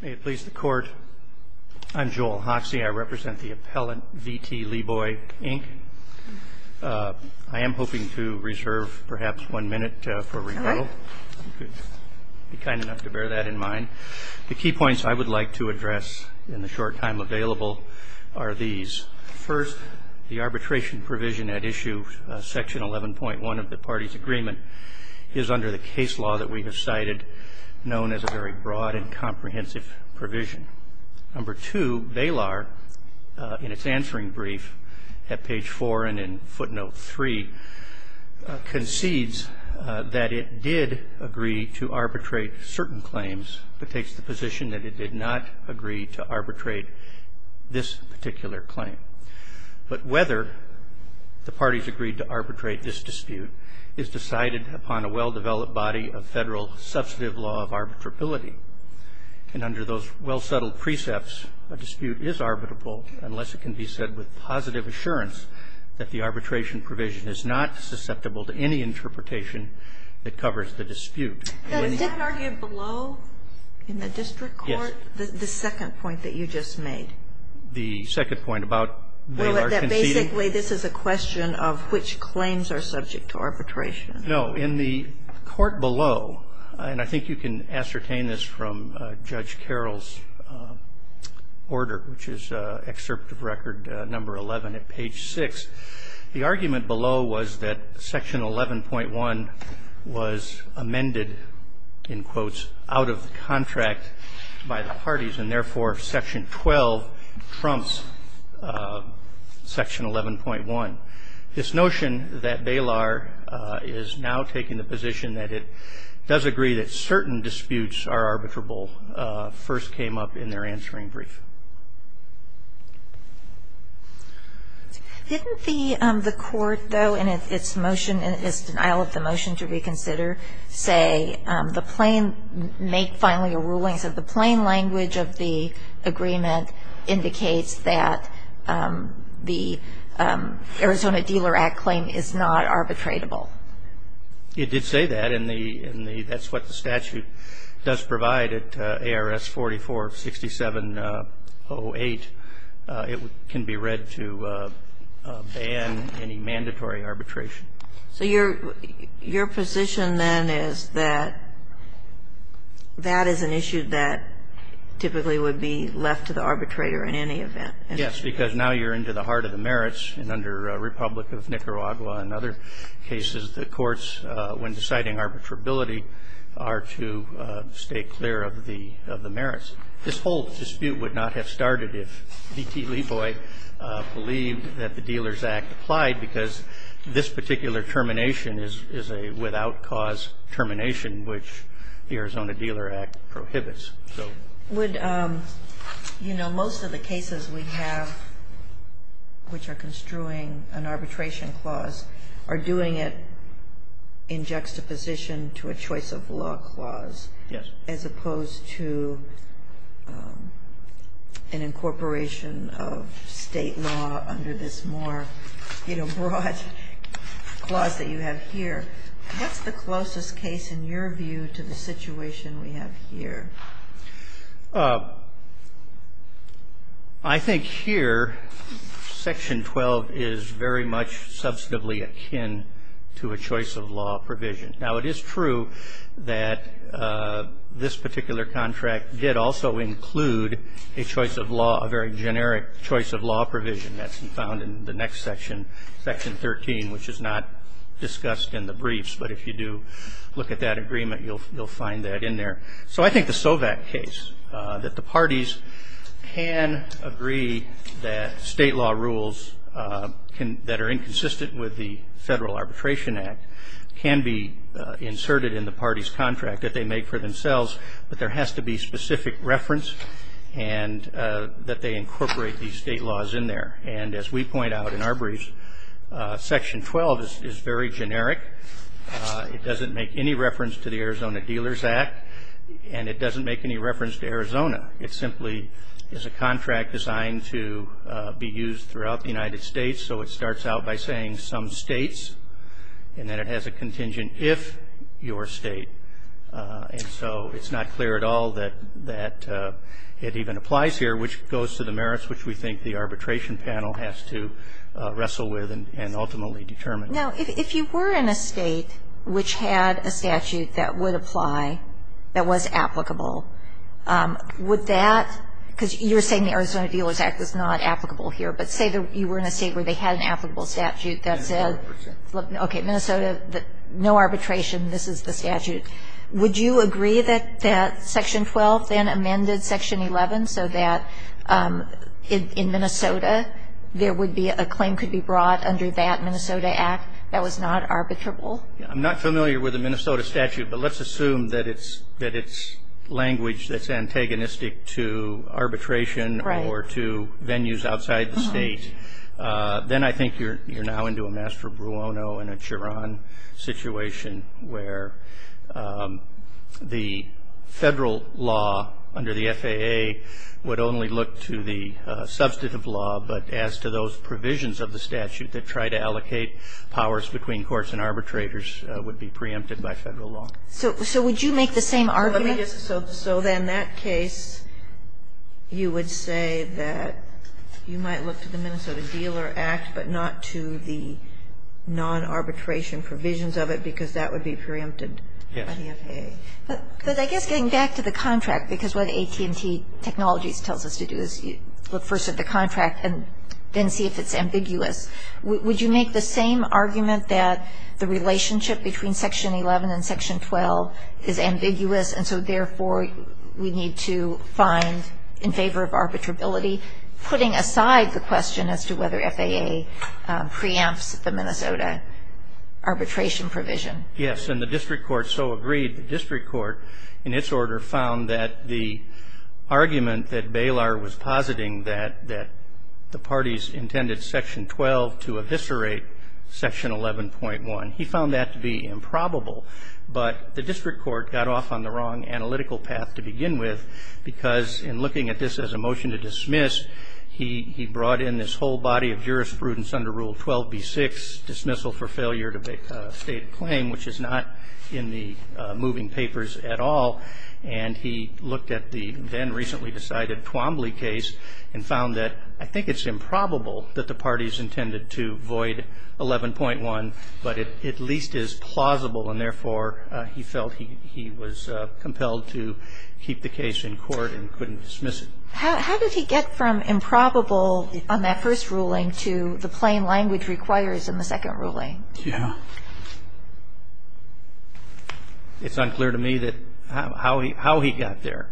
May it please the Court, I'm Joel Hoxie. I represent the appellant VT Leeboy, Inc. I am hoping to reserve perhaps one minute for rebuttal. Be kind enough to bear that in mind. The key points I would like to address in the short time available are these. First, the arbitration provision at Issue 11.1 of the party's agreement is under the case law that we have cited, known as a very broad and comprehensive provision. Number two, Balar, in its answering brief at page four and in footnote three, concedes that it did agree to arbitrate certain claims, but takes the position that it did not agree to arbitrate this particular claim. But whether the parties agreed to arbitrate this dispute is decided upon a well-developed body of Federal substantive law of arbitrability. And under those well-settled precepts, a dispute is arbitrable unless it can be said with positive assurance that the arbitration provision is not susceptible to any interpretation that covers the dispute. The second point that you just made. The second point about Balar conceding. Well, that basically this is a question of which claims are subject to arbitration. No. In the court below, and I think you can ascertain this from Judge Carroll's order, which is excerpt of Record No. 11 at page 6, the argument below was that Section 11.1 was amended, in quotes, out of contract by the parties, and therefore Section 12 trumps Section 11.1. This notion that Balar is now taking the position that it does agree that certain disputes are arbitrable first came up in their answering brief. Didn't the court, though, in its motion, in its denial of the motion to reconsider, say the plain, make finally a ruling, said the plain language of the agreement indicates that the Arizona Dealer Act claim is not arbitratable? It did say that, and that's what the statute does provide at ARS 44-6708. It can be read to ban any mandatory arbitration. So your position, then, is that that is an issue that typically would be left to the arbitrator in any event? Yes, because now you're into the heart of the merits, and under Republic of Nicaragua and other cases, the courts, when deciding arbitrability, are to stay clear of the merits. This whole dispute would not have started if D.T. is a without cause termination, which the Arizona Dealer Act prohibits, so. Would, you know, most of the cases we have which are construing an arbitration clause are doing it in juxtaposition to a choice of law clause. Yes. As opposed to an incorporation of State law under this more, you know, broad clause that you have here. What's the closest case, in your view, to the situation we have here? I think here, Section 12 is very much substantively akin to a choice of law provision. Now, it is true that this particular contract did also include a choice of law, a very generic choice of law provision. That's found in the next section, Section 13, which is not discussed in the briefs. But if you do look at that agreement, you'll find that in there. So I think the SOVAC case, that the parties can agree that State law rules that are inconsistent with the Federal Arbitration Act can be inserted in the parties' contract that they make for themselves, but there has to be specific reference and that they incorporate these State laws in there. And as we point out in our briefs, Section 12 is very generic. It doesn't make any reference to the Arizona Dealers Act, and it doesn't make any reference to Arizona. It simply is a contract designed to be used throughout the United States. So it starts out by saying some States, and then it has a contingent if your State. And so it's not clear at all that that it even applies here, which goes to the merits which we think the arbitration panel has to wrestle with and ultimately determine. Now, if you were in a State which had a statute that would apply, that was applicable, would that, because you're saying the Arizona Dealers Act is not applicable here, but say you were in a State where they had an applicable statute that said, okay, Minnesota, no arbitration. This is the statute. Would you agree that Section 12 then amended Section 11 so that in Minnesota there would be a claim could be brought under that Minnesota Act that was not arbitrable? I'm not familiar with the Minnesota statute, but let's assume that it's language that's antagonistic to arbitration or to venues outside the State. Then I think you're now into a Master Bruono and a Chiron situation where the Federal Law under the FAA would only look to the substantive law, but as to those provisions of the statute that try to allocate powers between courts and arbitrators would be preempted by Federal law. So would you make the same argument? Let me just, so then that case you would say that you might look to the Minnesota Dealer Act, but not to the non-arbitration provisions of it because that would be preempted by the FAA. But I guess getting back to the contract, because what AT&T Technologies tells us to do is look first at the contract and then see if it's ambiguous, would you make the same argument that the relationship between Section 11 and Section 12 is ambiguous and so therefore we need to find, in favor of arbitrability, putting aside the question as to whether FAA preempts the Minnesota arbitration provision? Yes. And the district court so agreed. The district court in its order found that the argument that Baylor was positing that the parties intended Section 12 to eviscerate Section 11.1, he found that to be improbable. But the district court got off on the wrong analytical path to begin with because in looking at this as a motion to dismiss, he brought in this whole body of jurisprudence under Rule 12b-6, dismissal for failure to state a claim, which is not in the moving papers at all. And he looked at the then recently decided Twombly case and found that I think it's impossible and therefore he felt he was compelled to keep the case in court and couldn't dismiss it. How did he get from improbable on that first ruling to the plain language requires in the second ruling? Yeah. It's unclear to me how he got there.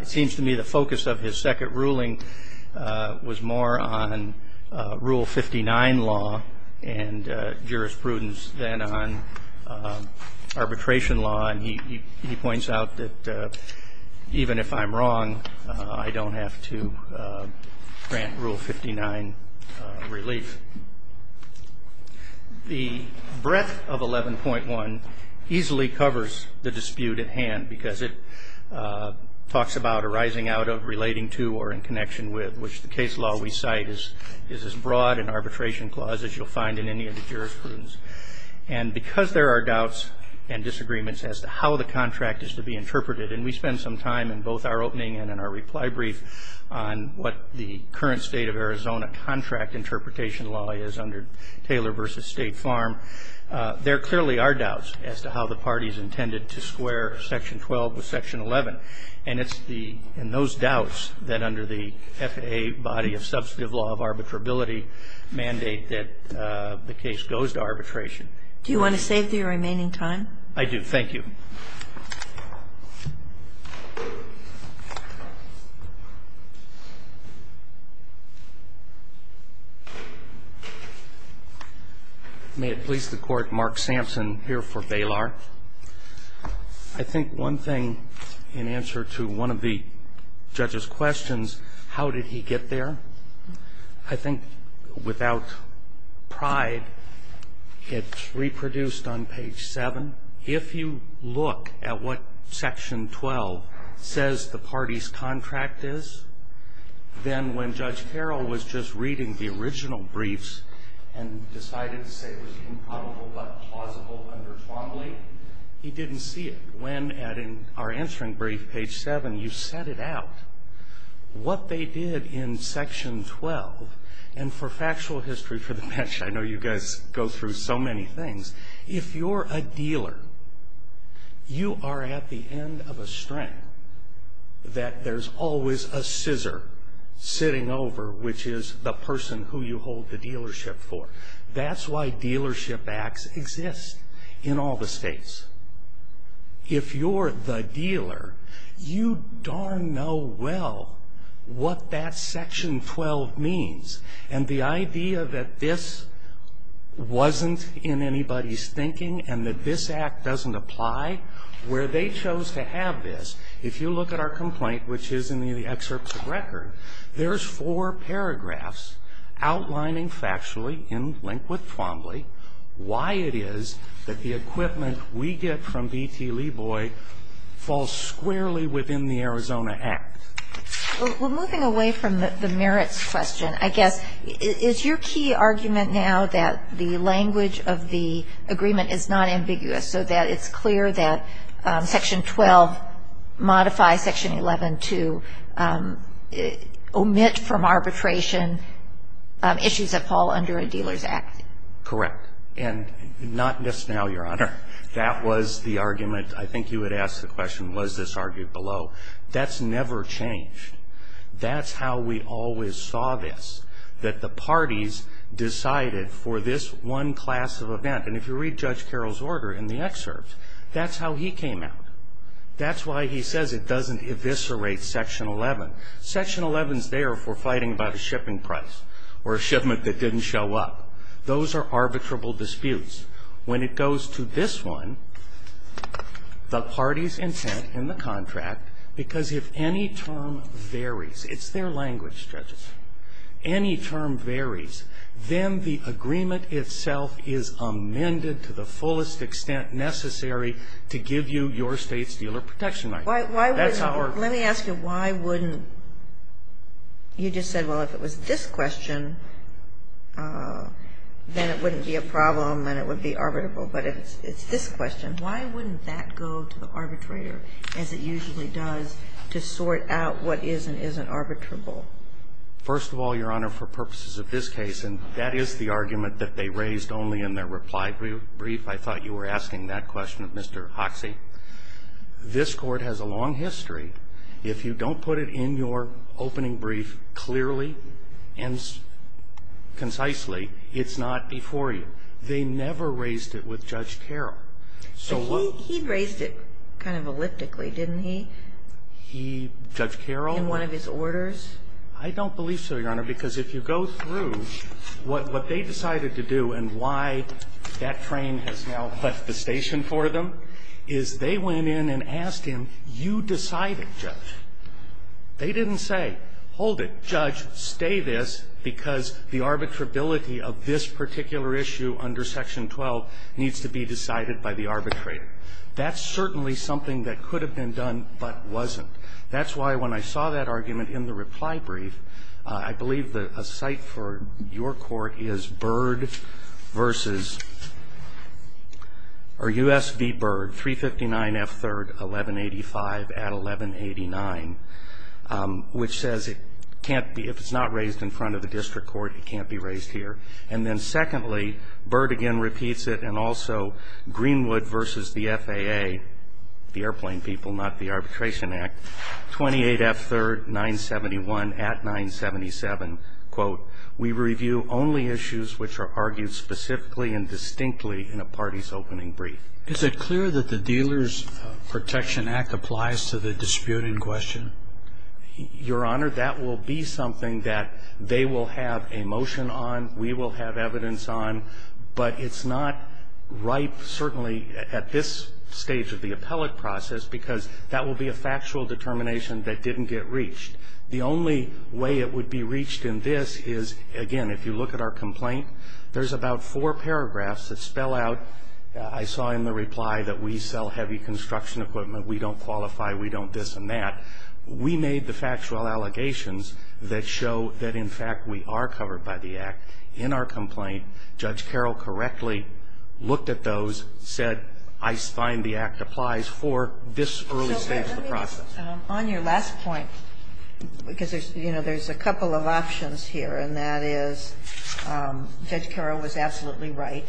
It seems to me the focus of his second ruling was more on Rule 59 law and jurisprudence than on arbitration law. And he points out that even if I'm wrong, I don't have to grant Rule 59 relief. The breadth of 11.1 easily covers the dispute at hand because it talks about arising out of, relating to, or in connection with, which the case law we cite is as broad an issue. And because there are doubts and disagreements as to how the contract is to be interpreted and we spend some time in both our opening and in our reply brief on what the current state of Arizona contract interpretation law is under Taylor v. State Farm. There clearly are doubts as to how the parties intended to square Section 12 with Section 11. And it's the, and those doubts that under the FAA body of substantive law of arbitrability mandate that the case goes to arbitration. Do you want to save the remaining time? I do. Thank you. May it please the Court, Mark Sampson here for Baylor. I think one thing in answer to one of the judge's questions, how did he get there? I think without pride, it's reproduced on page 7. If you look at what Section 12 says the parties' contract is, then when Judge Carroll was just reading the original briefs and decided to say it was improbable but plausible under Twombly, he didn't see it. Our answering brief, page 7, you set it out. What they did in Section 12, and for factual history for the bench, I know you guys go through so many things. If you're a dealer, you are at the end of a string that there's always a scissor sitting over, which is the person who you hold the dealership for. That's why dealership acts exist in all the states. If you're the dealer, you darn know well what that Section 12 means. And the idea that this wasn't in anybody's thinking and that this act doesn't apply, where they chose to have this, if you look at our complaint, which is in the excerpts of record, there's four paragraphs outlining factually, in link with Twombly, why it is that the equipment we get from B.T. Leboy falls squarely within the Arizona Act. Well, moving away from the merits question, I guess, is your key argument now that the language of the agreement is not ambiguous, so that it's clear that Section 12 modifies Section 11 to omit from arbitration issues that fall under a dealer's act? Correct. And not just now, Your Honor. That was the argument. I think you had asked the question, was this argued below? That's never changed. That's how we always saw this, that the parties decided for this one class of event. And if you read Judge Carroll's order in the excerpts, that's how he came out. That's why he says it doesn't eviscerate Section 11. Section 11 is there for fighting about a shipping price or a shipment that didn't show up. Those are arbitrable disputes. When it goes to this one, the parties' intent in the contract, because if any term varies, it's their language, judges, any term varies, then the agreement itself is amended to the fullest extent necessary to give you your State's dealer protection right. That's how it works. Let me ask you, why wouldn't you just said, well, if it was this question, then it wouldn't be a problem and it would be arbitrable. But if it's this question, why wouldn't that go to the arbitrator, as it usually does, to sort out what is and isn't arbitrable? First of all, Your Honor, for purposes of this case, and that is the argument that they raised only in their reply brief, I thought you were asking that question of Mr. Hoxie. This Court has a long history. If you don't put it in your opening brief clearly and concisely, it's not before you. They never raised it with Judge Carroll. He raised it kind of elliptically, didn't he? Judge Carroll? In one of his orders? I don't believe so, Your Honor, because if you go through what they decided to do and why that train has now left the station for them is they went in and asked him, you decided, Judge. They didn't say, hold it, Judge, stay this, because the arbitrability of this particular issue under Section 12 needs to be decided by the arbitrator. That's certainly something that could have been done but wasn't. That's why when I saw that argument in the reply brief, I believe a site for your court is Byrd v. Or U.S. v. Byrd, 359 F. 3rd, 1185 at 1189, which says it can't be, if it's not raised in front of the district court, it can't be raised here. And then secondly, Byrd again repeats it and also Greenwood v. the FAA, the airplane people, not the Arbitration Act, 28 F. 3rd, 971 at 977, quote, we review only issues which are argued specifically and distinctly in a party's opening brief. Is it clear that the Dealer's Protection Act applies to the dispute in question? Your Honor, that will be something that they will have a motion on, we will have evidence on, but it's not ripe certainly at this stage of the appellate process because that will be a factual determination that didn't get reached. The only way it would be reached in this is, again, if you look at our complaint, there's about four paragraphs that spell out, I saw in the reply that we sell heavy construction equipment, we don't qualify, we don't this and that. We made the factual allegations that show that, in fact, we are covered by the Act. In our complaint, Judge Carroll correctly looked at those, said, I find the Act applies for this early stage of the process. So let me just, on your last point, because there's, you know, there's a couple of options here, and that is Judge Carroll was absolutely right,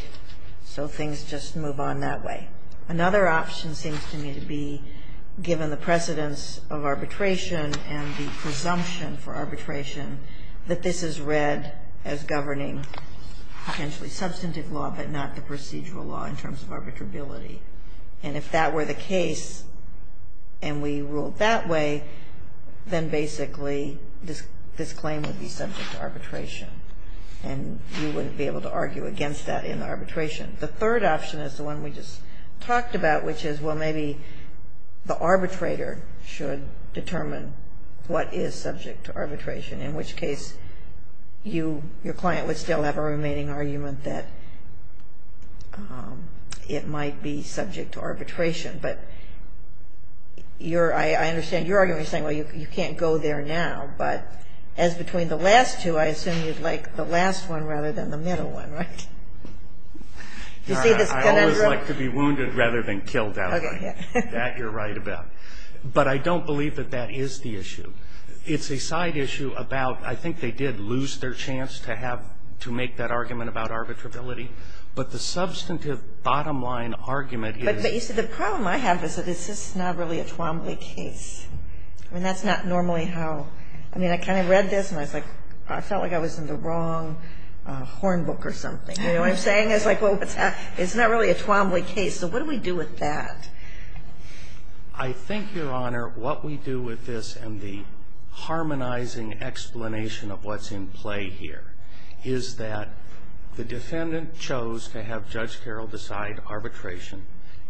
so things just move on that way. Another option seems to me to be, given the precedence of arbitration and the presumption for arbitration, that this is read as governing potentially substantive law but not the procedural law in terms of arbitrability. And if that were the case and we ruled that way, then basically this claim would be subject to arbitration, and you wouldn't be able to argue against that in arbitration. The third option is the one we just talked about, which is, well, maybe the arbitrator should determine what is subject to arbitration, in which case your client would still have a remaining argument that it might be subject to arbitration. But I understand your argument, you're saying, well, you can't go there now, but as between the last two, I assume you'd like the last one rather than the middle one, right? I always like to be wounded rather than killed, that you're right about. But I don't believe that that is the issue. It's a side issue about, I think they did lose their chance to have to make that argument about arbitrability, but the substantive bottom line argument is... But, you see, the problem I have is that this is not really a Twombly case. I mean, that's not normally how... I mean, I kind of read this, and I was like, I felt like I was in the wrong horn book or something, you know what I'm saying? It's like, well, it's not really a Twombly case. So what do we do with that? I think, Your Honor, what we do with this and the harmonizing explanation of what's in play here is that the defendant chose to have Judge Carroll decide arbitration,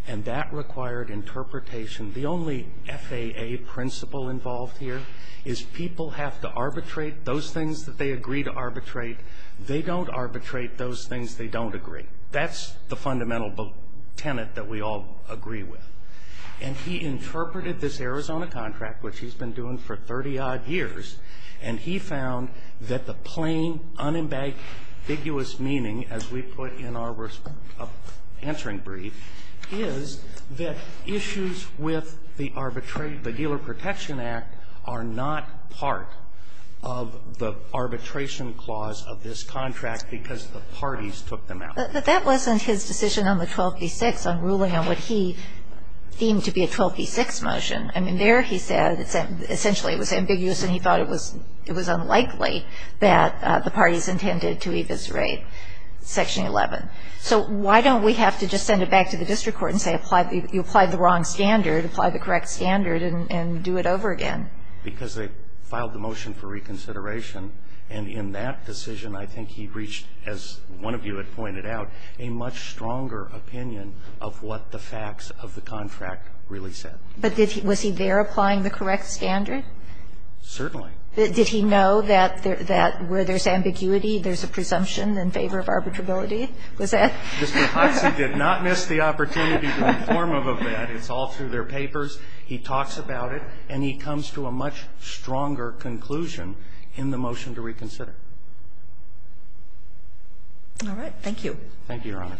and that required interpretation. The only FAA principle involved here is people have to arbitrate those things that they agree to arbitrate. They don't arbitrate those things they don't agree. That's the fundamental tenet that we all agree with. And he interpreted this Arizona contract, which he's been doing for 30-odd years, and he found that the plain, unambiguous meaning, as we put in our answering brief, is that issues with the arbitrate, the Dealer Protection Act, are not part of the arbitration clause of this contract because the parties took them out. But that wasn't his decision on the 12b-6, on ruling on what he deemed to be a 12b-6 motion. I mean, there he said essentially it was ambiguous and he thought it was unlikely that the parties intended to eviscerate Section 11. So why don't we have to just send it back to the district court and say you applied the wrong standard, apply the correct standard, and do it over again? Because they filed the motion for reconsideration. And in that decision, I think he reached, as one of you had pointed out, a much stronger opinion of what the facts of the contract really said. But was he there applying the correct standard? Certainly. Did he know that where there's ambiguity, there's a presumption in favor of arbitrability? Was that? Mr. Hodgson did not miss the opportunity to inform him of that. It's all through their papers. He talks about it. And he comes to a much stronger conclusion in the motion to reconsider. All right. Thank you. Thank you, Your Honor.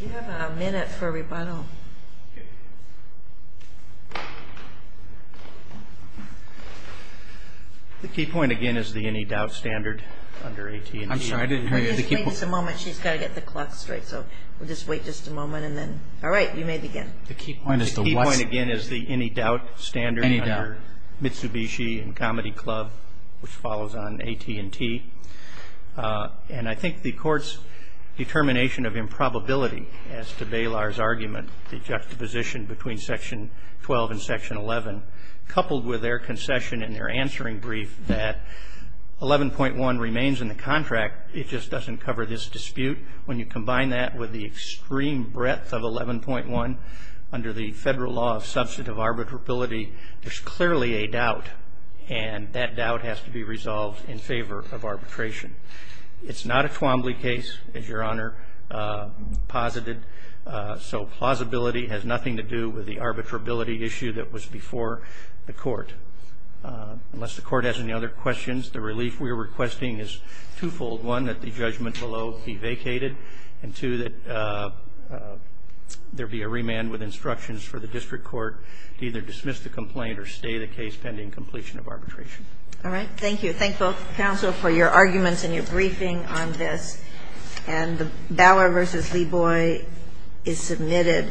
Do you have a minute for rebuttal? The key point, again, is the any doubt standard under AT&T. I'm sorry, I didn't hear you. Just wait just a moment. She's got to get the clock straight. So we'll just wait just a moment. All right. You may begin. The key point is the what? The key point, again, is the any doubt standard under Mitsubishi and Comedy Club, which follows on AT&T. And I think the Court's determination of improbability as to Baylor's argument, the juxtaposition between Section 12 and Section 11, coupled with their concession in their answering brief that 11.1 remains in the contract. It just doesn't cover this dispute. When you combine that with the extreme breadth of 11.1 under the Federal Law of Substantive Arbitrability, there's clearly a doubt, and that doubt has to be resolved in favor of arbitration. It's not a Twombly case, as Your Honor posited, so plausibility has nothing to do with the arbitrability issue that was before the Court. Unless the Court has any other questions, the relief we are requesting is twofold. One, that the judgment below be vacated, and two, that there be a remand with instructions for the district court to either dismiss the complaint or stay the case pending completion of arbitration. All right. Thank you. Thank both counsel for your arguments and your briefing on this. And the Baylor v. Leboy is submitted.